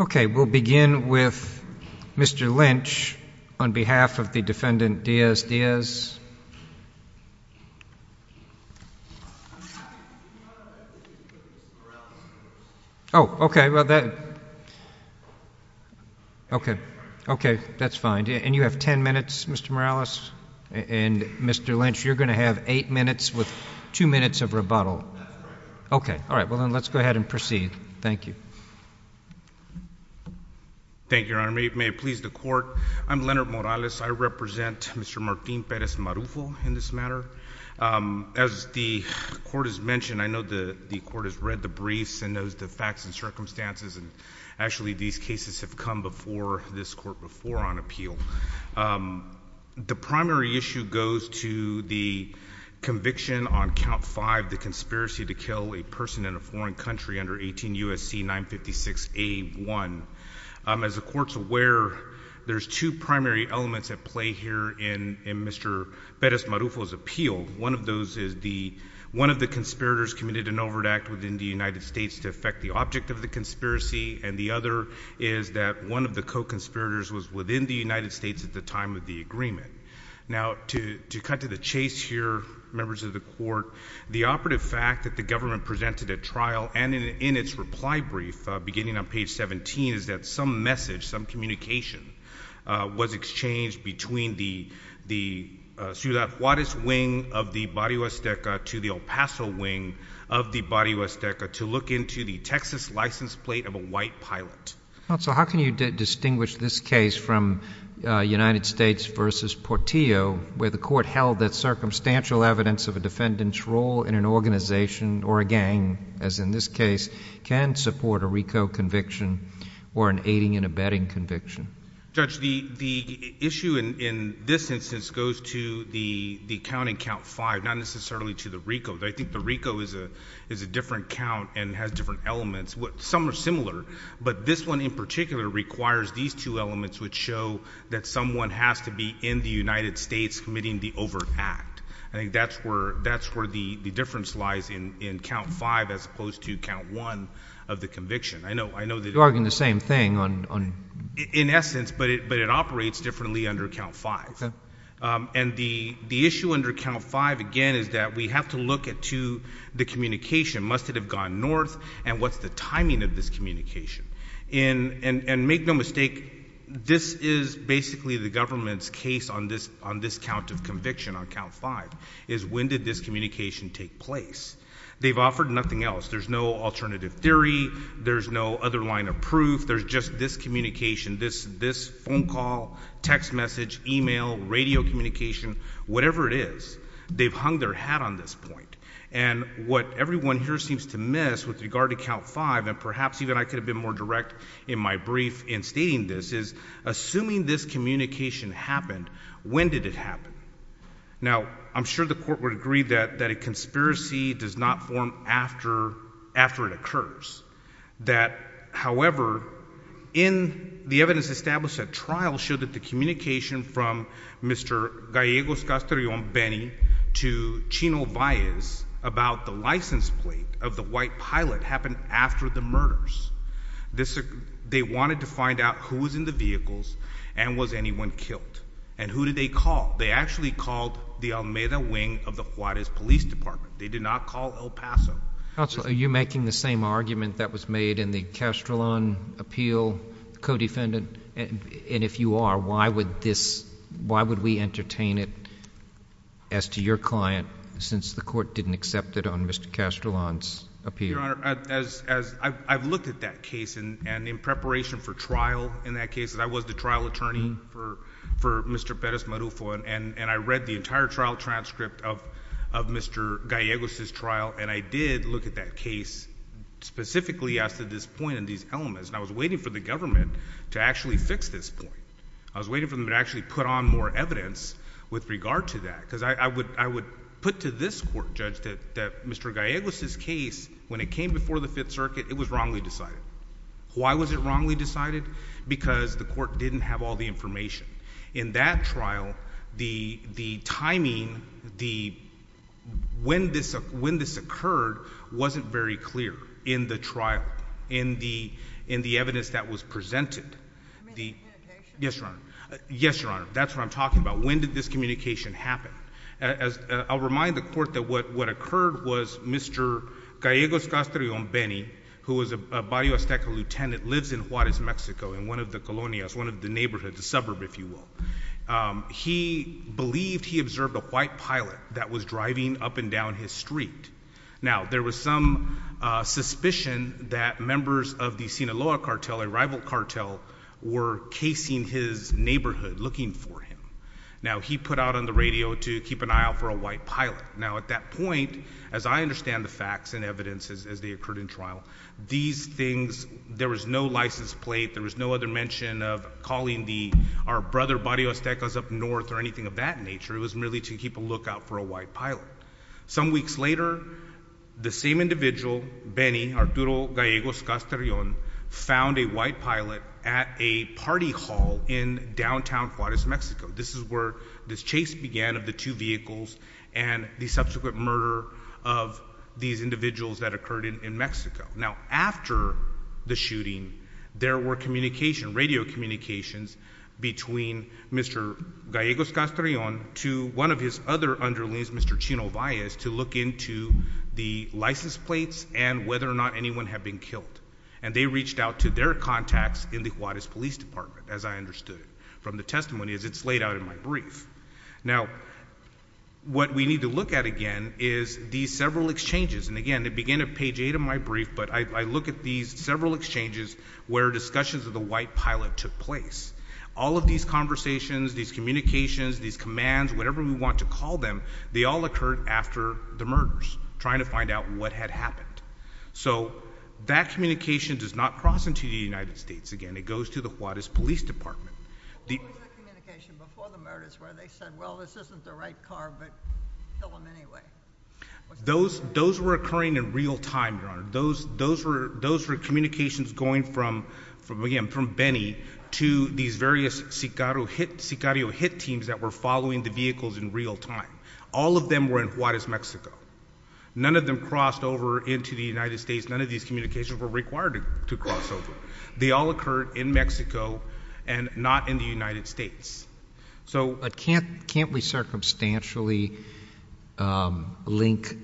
Okay, we'll begin with Mr. Lynch on behalf of the defendant Diaz Diaz. Mr. Lynch, you're going to have eight minutes with two minutes of rebuttal. Okay, all right, well then let's go ahead and proceed. Thank you. Thank you, Your Honor. May it please the Court, I'm Leonard Morales. I represent Mr. Martín Pérez Marufo in this matter. As the Court has mentioned, I know the Court has read the briefs and knows the facts and circumstances, and actually these cases have come before this Court before on appeal. The primary issue goes to the conviction on Count 5, the conspiracy to kill a person in a foreign country under 18 U.S.C. 956a1. As the Court's aware, there's two primary elements at play here in Mr. Pérez Marufo's appeal. One of those is one of the conspirators committed an overt act within the United States to affect the object of the conspiracy, and the other is that one of the co-conspirators was within the United States at the time of the agreement. Now, to cut to the chase here, members of the Court, the operative fact that the government presented at trial and in its reply brief beginning on page 17 is that some message, some communication, was exchanged between the Ciudad Juárez wing of the Barrio Azteca to the El Paso wing of the Barrio Azteca to look into the Texas license plate of a white pilot. Counsel, how can you distinguish this case from United States v. Portillo, where the Court held that circumstantial evidence of a defendant's role in an organization or a gang, as in this case, can support a RICO conviction or an aiding and abetting conviction? Judge, the issue in this instance goes to the count in Count 5, not necessarily to the RICO. I think the RICO is a different count and has different elements. Some are similar, but this one in particular requires these two elements, which show that someone has to be in the United States committing the overt act. I think that's where the difference lies in Count 5 as opposed to Count 1 of the conviction. You're arguing the same thing. In essence, but it operates differently under Count 5. And the issue under Count 5, again, is that we have to look at the communication. Must it have gone north, and what's the timing of this communication? And make no mistake, this is basically the government's case on this count of conviction, on Count 5, is when did this communication take place? They've offered nothing else. There's no alternative theory. There's no other line of proof. There's just this communication, this phone call, text message, e-mail, radio communication, whatever it is. They've hung their hat on this point. And what everyone here seems to miss with regard to Count 5, and perhaps even I could have been more direct in my brief in stating this, is assuming this communication happened, when did it happen? Now, I'm sure the court would agree that a conspiracy does not form after it occurs. That, however, in the evidence established at trial, showed that the communication from Mr. Gallegos Castellon Benny to Chino Valles about the license plate of the white pilot happened after the murders. They wanted to find out who was in the vehicles and was anyone killed. And who did they call? They actually called the Almeda wing of the Juarez Police Department. They did not call El Paso. Counsel, are you making the same argument that was made in the Castellon appeal, co-defendant? And if you are, why would we entertain it as to your client, since the court didn't accept it on Mr. Castellon's appeal? Your Honor, I've looked at that case, and in preparation for trial in that case, I was the trial attorney for Mr. Perez-Marufo, and I read the entire trial transcript of Mr. Gallegos' trial, and I did look at that case specifically as to this point and these elements, and I was waiting for the government to actually fix this point. I was waiting for them to actually put on more evidence with regard to that, because I would put to this court, Judge, that Mr. Gallegos' case, when it came before the Fifth Circuit, it was wrongly decided. Why was it wrongly decided? Because the court didn't have all the information. In that trial, the timing, when this occurred, wasn't very clear in the trial, in the evidence that was presented. Yes, Your Honor. Yes, Your Honor, that's what I'm talking about. When did this communication happen? I'll remind the court that what occurred was Mr. Gallegos Castellon-Benny, who was a Barrio Azteca lieutenant, lives in Juarez, Mexico, in one of the colonias, one of the neighborhoods, a suburb, if you will. He believed he observed a white pilot that was driving up and down his street. Now, there was some suspicion that members of the Sinaloa cartel, a rival cartel, were casing his neighborhood, looking for him. Now, he put out on the radio to keep an eye out for a white pilot. Now, at that point, as I understand the facts and evidence as they occurred in trial, these things, there was no license plate, there was no other mention of calling our brother Barrio Azteca up north or anything of that nature. It was merely to keep a lookout for a white pilot. Some weeks later, the same individual, Benny, Arturo Gallegos Castellon, found a white pilot at a party hall in downtown Juarez, Mexico. This is where this chase began of the two vehicles and the subsequent murder of these individuals that occurred in Mexico. Now, after the shooting, there were communications, radio communications, between Mr. Gallegos Castellon to one of his other underlings, Mr. Chino Valles, to look into the license plates and whether or not anyone had been killed. And they reached out to their contacts in the Juarez Police Department, as I understood it, Now, what we need to look at again is these several exchanges. And again, to begin at page 8 of my brief, but I look at these several exchanges where discussions of the white pilot took place. All of these conversations, these communications, these commands, whatever we want to call them, they all occurred after the murders, trying to find out what had happened. So that communication does not cross into the United States. Again, it goes to the Juarez Police Department. What was the communication before the murders where they said, well, this isn't the right car, but kill him anyway? Those were occurring in real time, Your Honor. Those were communications going from, again, from Benny to these various Sicario hit teams that were following the vehicles in real time. All of them were in Juarez, Mexico. None of them crossed over into the United States. None of these communications were required to cross over. They all occurred in Mexico and not in the United States. But can't we circumstantially link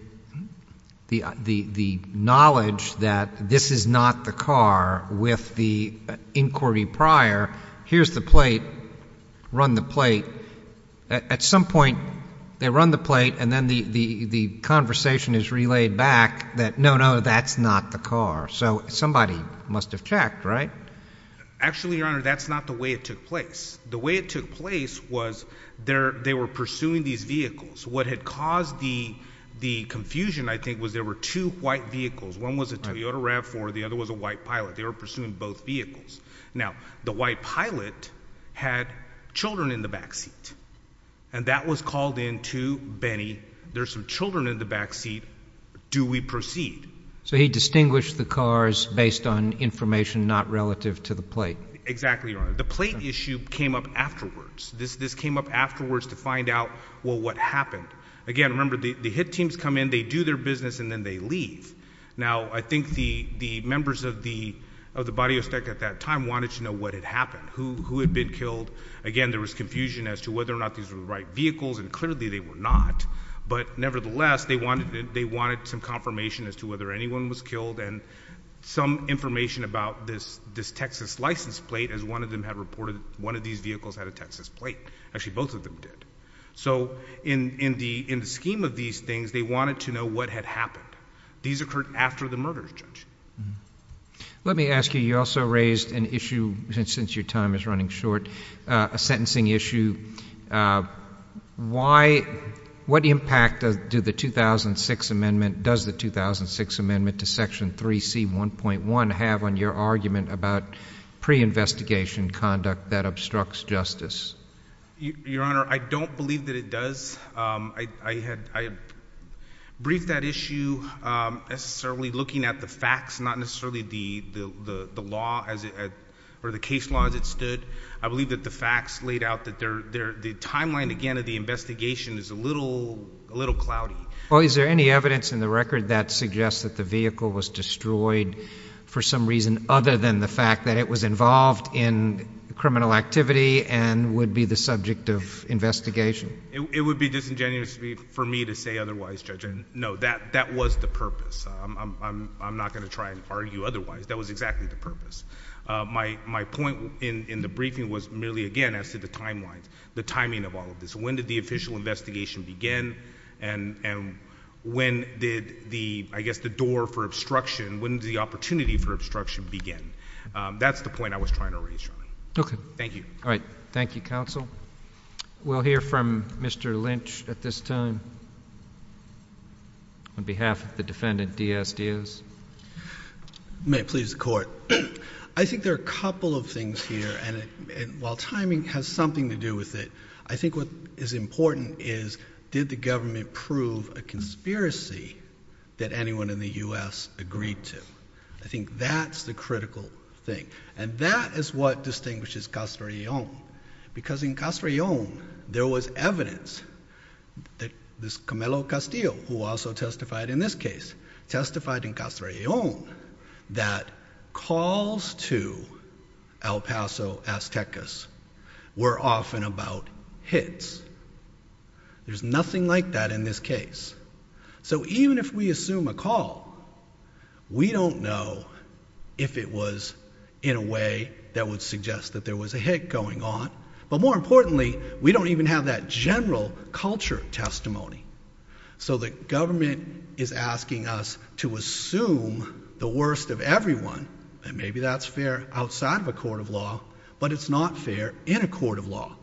the knowledge that this is not the car with the inquiry prior? Here's the plate. Run the plate. At some point, they run the plate, and then the conversation is relayed back that, no, no, that's not the car. So somebody must have checked, right? Actually, Your Honor, that's not the way it took place. The way it took place was they were pursuing these vehicles. What had caused the confusion, I think, was there were two white vehicles. One was a Toyota RAV4. The other was a white Pilot. They were pursuing both vehicles. Now, the white Pilot had children in the back seat, and that was called in to Benny. There's some children in the back seat. Do we proceed? So he distinguished the cars based on information not relative to the plate. Exactly, Your Honor. The plate issue came up afterwards. This came up afterwards to find out, well, what happened. Again, remember, the hit teams come in, they do their business, and then they leave. Now, I think the members of the body of state at that time wanted to know what had happened, who had been killed. Again, there was confusion as to whether or not these were the right vehicles, and clearly they were not. But nevertheless, they wanted some confirmation as to whether anyone was killed and some information about this Texas license plate, as one of these vehicles had a Texas plate. Actually, both of them did. So in the scheme of these things, they wanted to know what had happened. These occurred after the murder, Judge. Let me ask you, you also raised an issue, since your time is running short, a sentencing issue. What impact does the 2006 amendment to Section 3C1.1 have on your argument about pre-investigation conduct that obstructs justice? Your Honor, I don't believe that it does. I briefed that issue necessarily looking at the facts, not necessarily the case law as it stood. I believe that the facts laid out that the timeline, again, of the investigation is a little cloudy. Well, is there any evidence in the record that suggests that the vehicle was destroyed for some reason other than the fact that it was involved in criminal activity and would be the subject of investigation? It would be disingenuous for me to say otherwise, Judge. No, that was the purpose. I'm not going to try and argue otherwise. That was exactly the purpose. My point in the briefing was merely, again, as to the timeline, the timing of all of this. When did the official investigation begin and when did the, I guess, the door for obstruction, when did the opportunity for obstruction begin? That's the point I was trying to raise, Your Honor. Okay. Thank you. All right. Thank you, Counsel. We'll hear from Mr. Lynch at this time on behalf of the defendant, D.S. Diaz. May it please the Court. I think there are a couple of things here, and while timing has something to do with it, I think what is important is, did the government prove a conspiracy that anyone in the U.S. agreed to? I think that's the critical thing, and that is what distinguishes Castrellon, because in Castrellon, there was evidence that Camelo Castillo, who also testified in this case, testified in Castrellon that calls to El Paso Aztecas were often about hits. There's nothing like that in this case. So even if we assume a call, we don't know if it was in a way that would suggest that there was a hit going on, but more importantly, we don't even have that general culture testimony. So the government is asking us to assume the worst of everyone, and maybe that's fair outside of a court of law, but it's not fair in a court of law.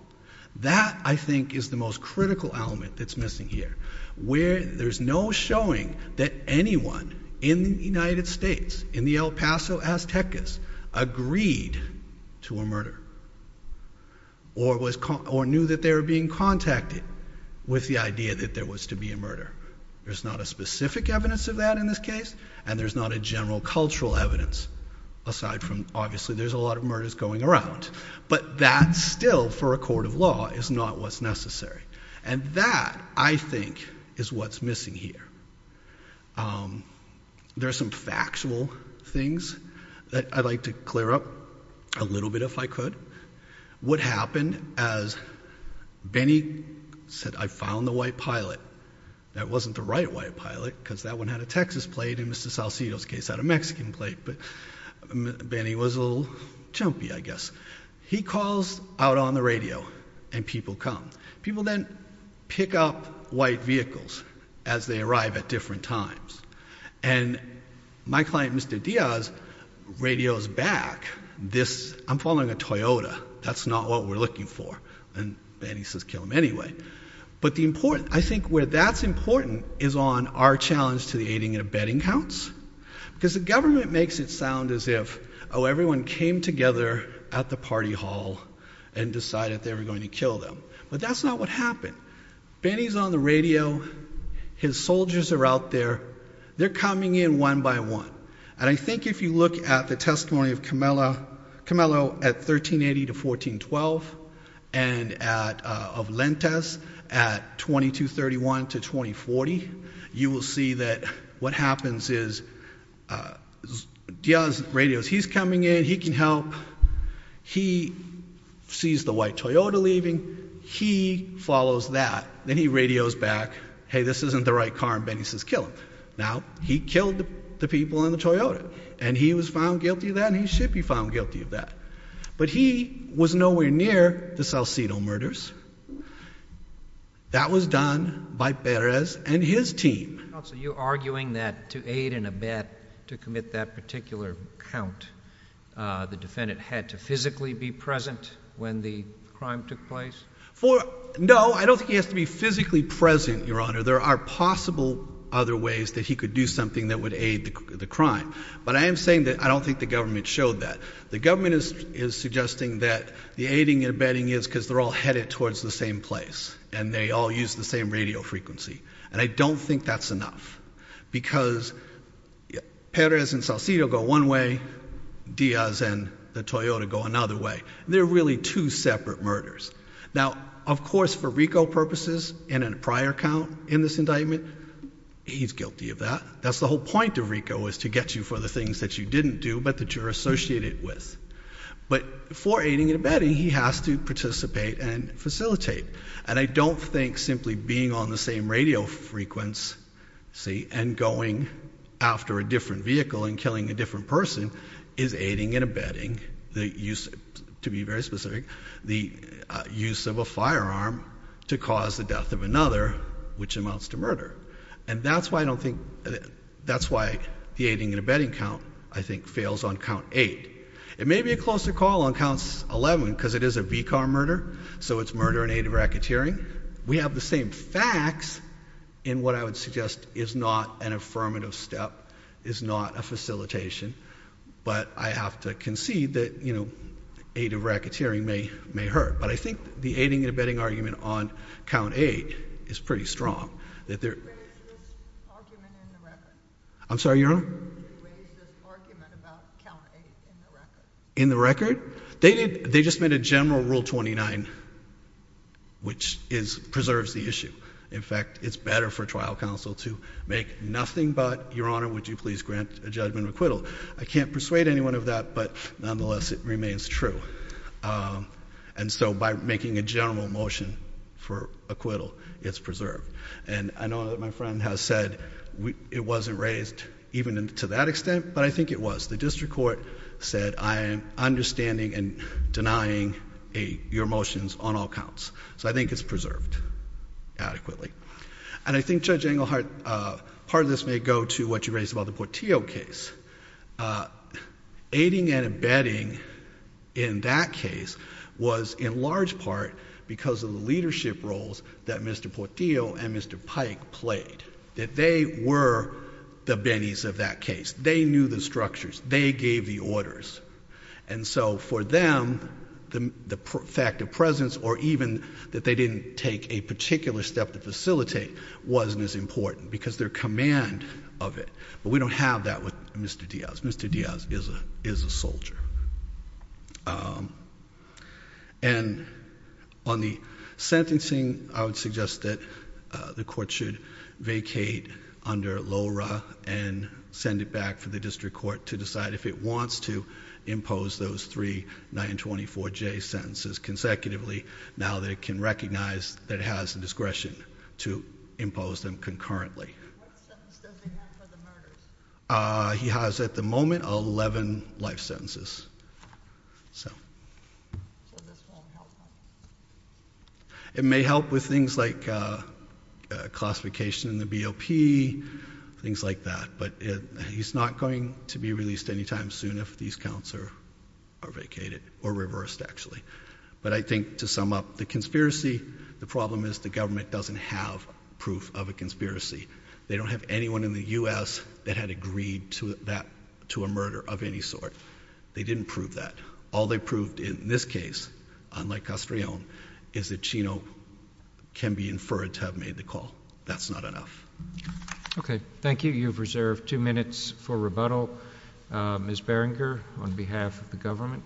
That, I think, is the most critical element that's missing here, where there's no showing that anyone in the United States, in the El Paso Aztecas, agreed to a murder or knew that they were being contacted with the idea that there was to be a murder. There's not a specific evidence of that in this case, and there's not a general cultural evidence, aside from obviously there's a lot of murders going around, but that still, for a court of law, is not what's necessary. And that, I think, is what's missing here. There's some factual things that I'd like to clear up a little bit, if I could. What happened, as Benny said, I found the white pilot. That wasn't the right white pilot, because that one had a Texas plate, and Mr. Salcido's case had a Mexican plate, but Benny was a little jumpy, I guess. He calls out on the radio, and people come. People then pick up white vehicles as they arrive at different times. And my client, Mr. Diaz, radios back, I'm following a Toyota, that's not what we're looking for. And Benny says, kill him anyway. But I think where that's important is on our challenge to the aiding and abetting counts. Because the government makes it sound as if, oh, everyone came together at the party hall and decided they were going to kill them. But that's not what happened. Benny's on the radio. His soldiers are out there. They're coming in one by one. And I think if you look at the testimony of Camelo at 1380 to 1412, and of Lentes at 2231 to 2040, you will see that what happens is Diaz radios. He's coming in. He can help. He sees the white Toyota leaving. He follows that. Then he radios back, hey, this isn't the right car, and Benny says, kill him. Now, he killed the people in the Toyota, and he was found guilty of that, and he should be found guilty of that. But he was nowhere near the Salcido murders. That was done by Perez and his team. Counsel, are you arguing that to aid and abet, to commit that particular count, the defendant had to physically be present when the crime took place? No, I don't think he has to be physically present, Your Honor. There are possible other ways that he could do something that would aid the crime. But I am saying that I don't think the government showed that. The government is suggesting that the aiding and abetting is because they're all headed towards the same place and they all use the same radio frequency. And I don't think that's enough because Perez and Salcido go one way, Diaz and the Toyota go another way. They're really two separate murders. Now, of course, for RICO purposes and in a prior count in this indictment, he's guilty of that. That's the whole point of RICO is to get you for the things that you didn't do but that you're associated with. But for aiding and abetting, he has to participate and facilitate. And I don't think simply being on the same radio frequency and going after a different vehicle and killing a different person is aiding and abetting, to be very specific, the use of a firearm to cause the death of another, which amounts to murder. And that's why I don't think that's why the aiding and abetting count, I think, fails on count 8. It may be a closer call on count 11 because it is a V-car murder, so it's murder in aid of racketeering. We have the same facts in what I would suggest is not an affirmative step, is not a facilitation. But I have to concede that aid of racketeering may hurt. But I think the aiding and abetting argument on count 8 is pretty strong. They raised this argument in the record. I'm sorry, Your Honor? They raised this argument about count 8 in the record. In the record? They just made a general Rule 29, which preserves the issue. In fact, it's better for trial counsel to make nothing but, Your Honor, would you please grant a judgment of acquittal. I can't persuade anyone of that, but nonetheless it remains true. And so by making a general motion for acquittal, it's preserved. And I know that my friend has said it wasn't raised even to that extent, but I think it was. The district court said I am understanding and denying your motions on all counts. So I think it's preserved adequately. And I think, Judge Englehart, part of this may go to what you raised about the Portillo case. Aiding and abetting in that case was in large part because of the leadership roles that Mr. Portillo and Mr. Pike played. That they were the bennies of that case. They knew the structures. They gave the orders. And so for them, the fact of presence or even that they didn't take a particular step to facilitate wasn't as important because their command of it. But we don't have that with Mr. Diaz. Mr. Diaz is a soldier. And on the sentencing, I would suggest that the court should vacate under LORA and send it back for the district court to decide if it wants to impose those three 924J sentences consecutively, now that it can recognize that it has the discretion to impose them concurrently. What sentence does he have for the murders? He has, at the moment, 11 life sentences. So this won't help him? It may help with things like classification in the BOP, things like that. But he's not going to be released any time soon if these counts are vacated or reversed, actually. But I think to sum up the conspiracy, the problem is the government doesn't have proof of a conspiracy. They don't have anyone in the U.S. that had agreed to a murder of any sort. They didn't prove that. All they proved in this case, unlike Castrillon, is that Chino can be inferred to have made the call. That's not enough. Okay. Thank you. You've reserved two minutes for rebuttal. Ms. Barringer, on behalf of the government.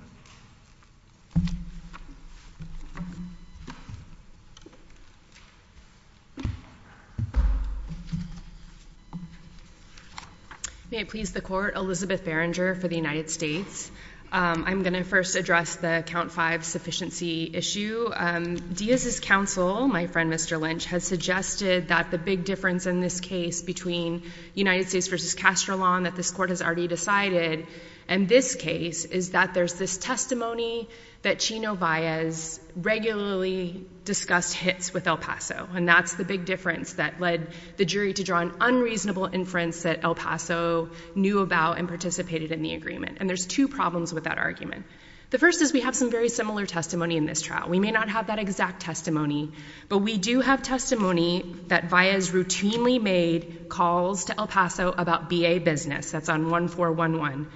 May it please the Court, Elizabeth Barringer for the United States. I'm going to first address the Count 5 sufficiency issue. Diaz's counsel, my friend Mr. Lynch, has suggested that the big difference in this case between United States versus Castrillon that this Court has already decided in this case is that there's this testimony that Chino Diaz regularly discussed hits with El Paso. And that's the big difference that led the jury to draw an unreasonable inference that El Paso knew about and participated in the agreement. And there's two problems with that argument. The first is we have some very similar testimony in this trial. We may not have that exact testimony. But we do have testimony that Diaz routinely made calls to El Paso about B.A. business. That's on 1411.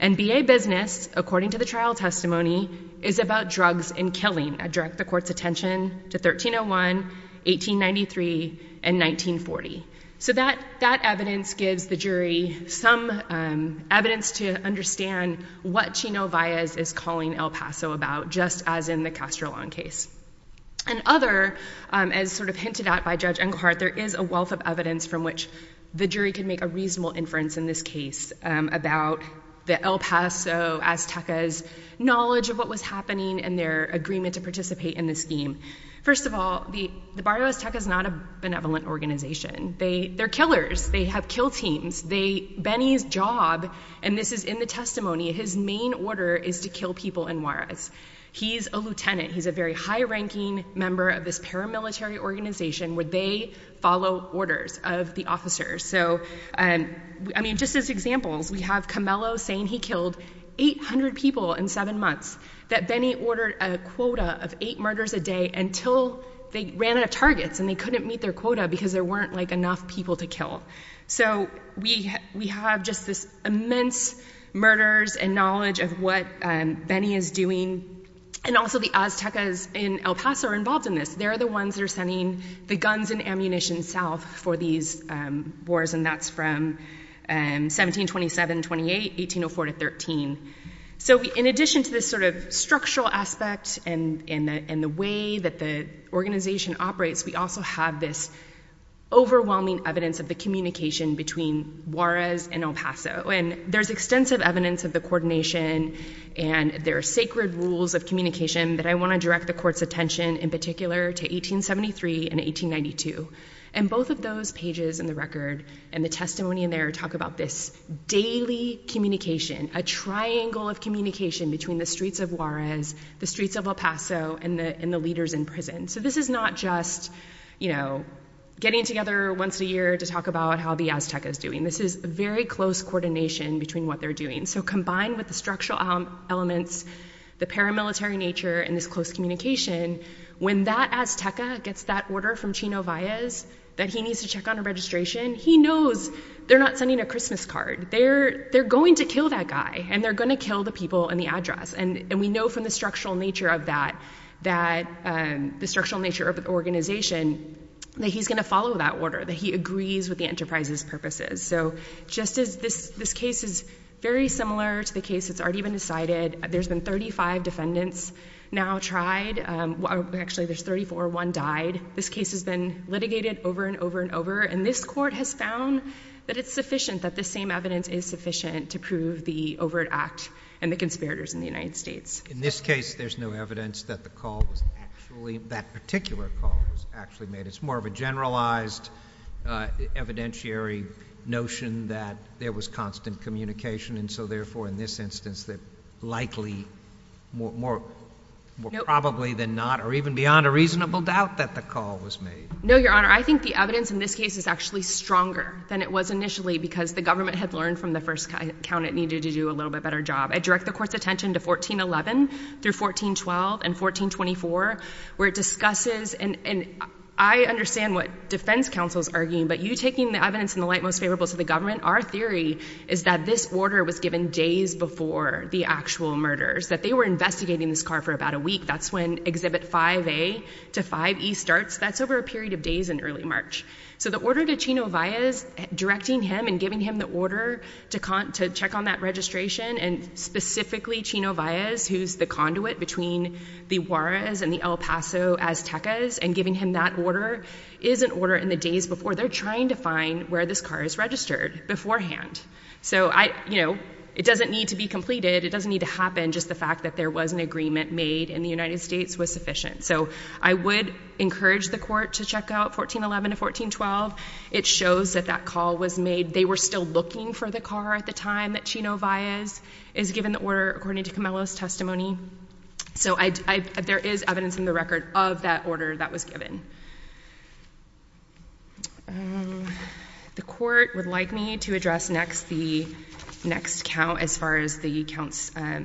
And B.A. business, according to the trial testimony, is about drugs and killing. I direct the Court's attention to 1301, 1893, and 1940. So that evidence gives the jury some evidence to understand what Chino Diaz is calling El Paso about, just as in the Castrillon case. And other, as sort of hinted at by Judge Engelhardt, there is a wealth of evidence from which the jury could make a reasonable inference in this case about the El Paso Aztecas' knowledge of what was happening and their agreement to participate in the scheme. First of all, the Barrio Azteca is not a benevolent organization. They're killers. They have kill teams. Benny's job, and this is in the testimony, his main order is to kill people in Juarez. He's a lieutenant. He's a very high-ranking member of this paramilitary organization where they follow orders of the officers. So, I mean, just as examples, we have Camelo saying he killed 800 people in seven months, that Benny ordered a quota of eight murders a day until they ran out of targets and they couldn't meet their quota because there weren't, like, enough people to kill. So we have just this immense murders and knowledge of what Benny is doing. And also the Aztecas in El Paso are involved in this. They're the ones that are sending the guns and ammunition south for these wars, and that's from 1727-28, 1804-13. So in addition to this sort of structural aspect and the way that the organization operates, we also have this overwhelming evidence of the communication between Juarez and El Paso, and there's extensive evidence of the coordination and there are sacred rules of communication that I want to direct the Court's attention in particular to 1873 and 1892. And both of those pages in the record and the testimony in there talk about this daily communication, a triangle of communication between the streets of Juarez, the streets of El Paso, and the leaders in prison. So this is not just, you know, getting together once a year to talk about how the Azteca is doing. This is very close coordination between what they're doing. So combined with the structural elements, the paramilitary nature, and this close communication, when that Azteca gets that order from Chino Valles that he needs to check on a registration, he knows they're not sending a Christmas card. They're going to kill that guy, and they're going to kill the people in the address. And we know from the structural nature of that, the structural nature of the organization, that he's going to follow that order, that he agrees with the enterprise's purposes. So just as this case is very similar to the case that's already been decided. There's been 35 defendants now tried. Actually, there's 34. One died. This case has been litigated over and over and over, and this Court has found that it's sufficient, that the same evidence is sufficient to prove the overt act and the conspirators in the United States. In this case, there's no evidence that the call was actually, that particular call was actually made. It's more of a generalized evidentiary notion that there was constant communication, and so therefore, in this instance, that likely, more probably than not, or even beyond a reasonable doubt, that the call was made. No, Your Honor. I think the evidence in this case is actually stronger than it was initially because the government had learned from the first count it needed to do a little bit better job. I direct the Court's attention to 1411 through 1412 and 1424 where it discusses, and I understand what defense counsel is arguing, but you taking the evidence in the light most favorable to the government, our theory is that this order was given days before the actual murders, that they were investigating this car for about a week. That's when Exhibit 5A to 5E starts. That's over a period of days in early March. So the order to Chino Valles, directing him and giving him the order to check on that registration and specifically Chino Valles, who's the conduit between the Juarez and the El Paso Aztecas, and giving him that order is an order in the days before. They're trying to find where this car is registered beforehand. So, you know, it doesn't need to be completed. It doesn't need to happen. Just the fact that there was an agreement made in the United States was sufficient. So I would encourage the Court to check out 1411 to 1412. It shows that that call was made. They were still looking for the car at the time that Chino Valles is given the order according to Camelo's testimony. So there is evidence in the record of that order that was given. The Court would like me to address next the next count as far as the counts, the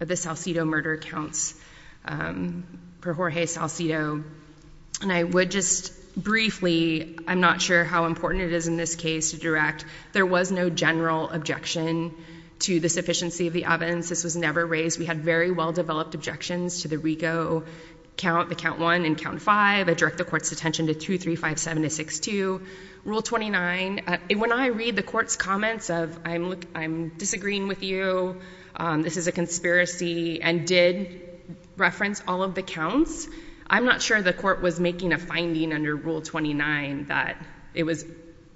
Salcido murder counts per Jorge Salcido. And I would just briefly, I'm not sure how important it is in this case to direct, there was no general objection to the sufficiency of the ovens. This was never raised. We had very well-developed objections to the Rigo count, the count one and count five. I direct the Court's attention to 2357 to 6-2. Rule 29, when I read the Court's comments of I'm disagreeing with you, this is a conspiracy, and did reference all of the counts. I'm not sure the Court was making a finding under Rule 29 that it was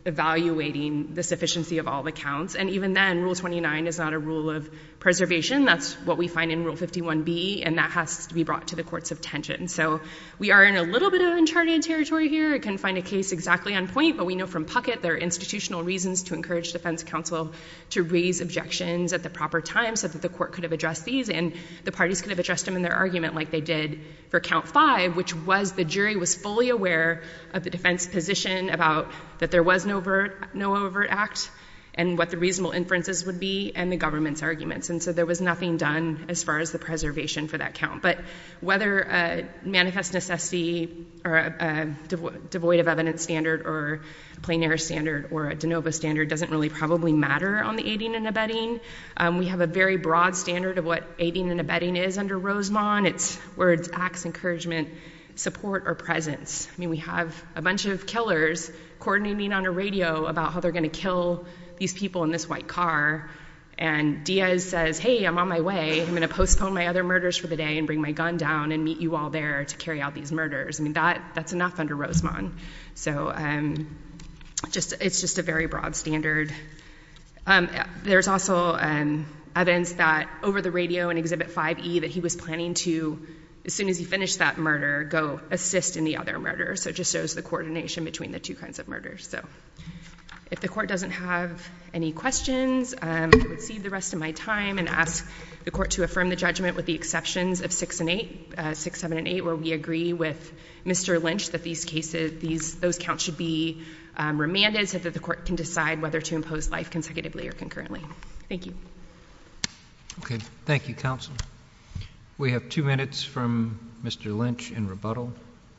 evaluating the sufficiency of all the counts. And even then, Rule 29 is not a rule of preservation. That's what we find in Rule 51B, and that has to be brought to the courts of tension. So we are in a little bit of uncharted territory here. I couldn't find a case exactly on point, but we know from Puckett there are institutional reasons to encourage defense counsel to raise objections at the proper time so that the Court could have addressed these, and the parties could have addressed them in their argument like they did for count five, which was the jury was fully aware of the defense position about that there was no overt act and what the reasonable inferences would be and the government's arguments. And so there was nothing done as far as the preservation for that count. But whether a manifest necessity or a devoid of evidence standard or a plein air standard or a de novo standard doesn't really probably matter on the aiding and abetting. We have a very broad standard of what aiding and abetting is under Rosemont. It's where it's acts, encouragement, support, or presence. I mean, we have a bunch of killers coordinating on a radio about how they're going to kill these people in this white car, and Diaz says, hey, I'm on my way, I'm going to postpone my other murders for the day and bring my gun down and meet you all there to carry out these murders. I mean, that's enough under Rosemont. So it's just a very broad standard. There's also evidence that over the radio in Exhibit 5E that he was planning to, as soon as he finished that murder, go assist in the other murder. So it just shows the coordination between the two kinds of murders. So if the court doesn't have any questions, I would cede the rest of my time and ask the court to affirm the judgment with the exceptions of 6 and 8, 6, 7, and 8, where we agree with Mr. Lynch that those counts should be remanded so that the court can decide whether to impose life consecutively or concurrently. Thank you. Okay. Thank you, counsel. We have two minutes from Mr. Lynch in rebuttal.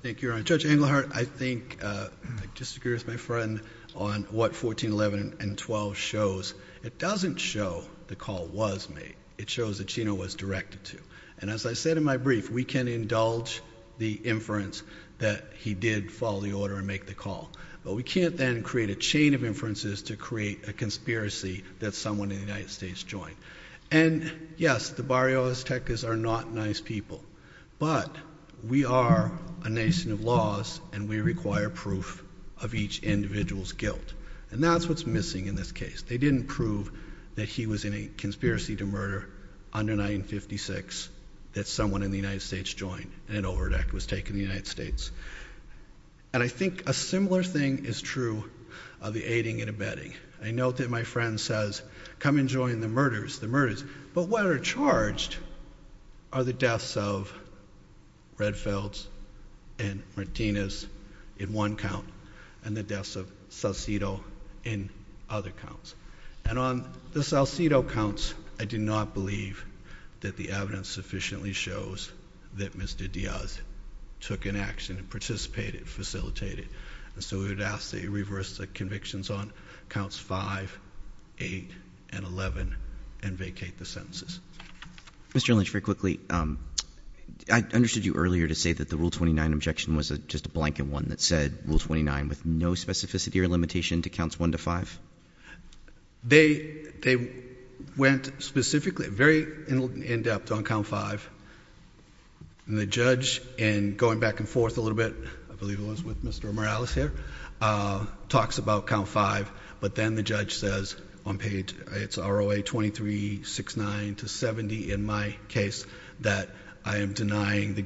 Thank you, Your Honor. Judge Englehart, I think I disagree with my friend on what 1411 and 12 shows. It doesn't show the call was made. It shows that Chino was directed to. And as I said in my brief, we can indulge the inference that he did follow the order and make the call. But we can't then create a chain of inferences to create a conspiracy that someone in the United States joined. And, yes, the Barrio Aztecas are not nice people. But we are a nation of laws, and we require proof of each individual's guilt. And that's what's missing in this case. They didn't prove that he was in a conspiracy to murder under 1956, that someone in the United States joined and an overt act was taken in the United States. And I think a similar thing is true of the aiding and abetting. I note that my friend says, come and join the murders, the murders. But what are charged are the deaths of Redfields and Martinez in one count and the deaths of Salcido in other counts. And on the Salcido counts, I do not believe that the evidence sufficiently shows that Mr. Diaz took an action and participated, facilitated. And so we would ask that he reverse the convictions on counts 5, 8, and 11 and vacate the sentences. Mr. Lynch, very quickly, I understood you earlier to say that the Rule 29 objection was just a blanket one that said Rule 29 with no specificity or limitation to counts 1 to 5. They went specifically, very in-depth on count 5. And the judge, in going back and forth a little bit, I believe it was with Mr. Morales here, talks about count 5. But then the judge says on page, it's ROA 2369 to 70 in my case, that I am denying the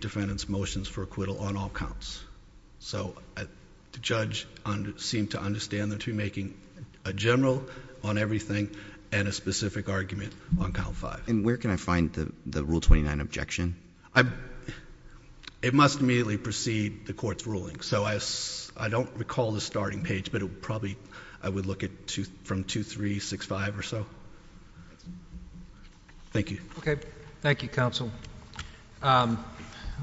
defendant's motions for acquittal on all counts. So the judge seemed to understand that you're making a general on everything and a specific argument on count 5. And where can I find the Rule 29 objection? It must immediately precede the court's ruling. So I don't recall the starting page, but it would probably, I would look at from 2365 or so. Thank you. Okay. Thank you, Counsel.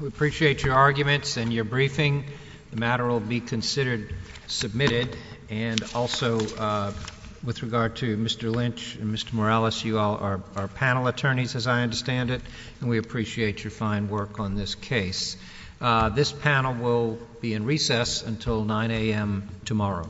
We appreciate your arguments and your briefing. The matter will be considered submitted. And also, with regard to Mr. Lynch and Mr. Morales, you all are panel attorneys, as I understand it. And we appreciate your fine work on this case. This panel will be in recess until 9 a.m. tomorrow.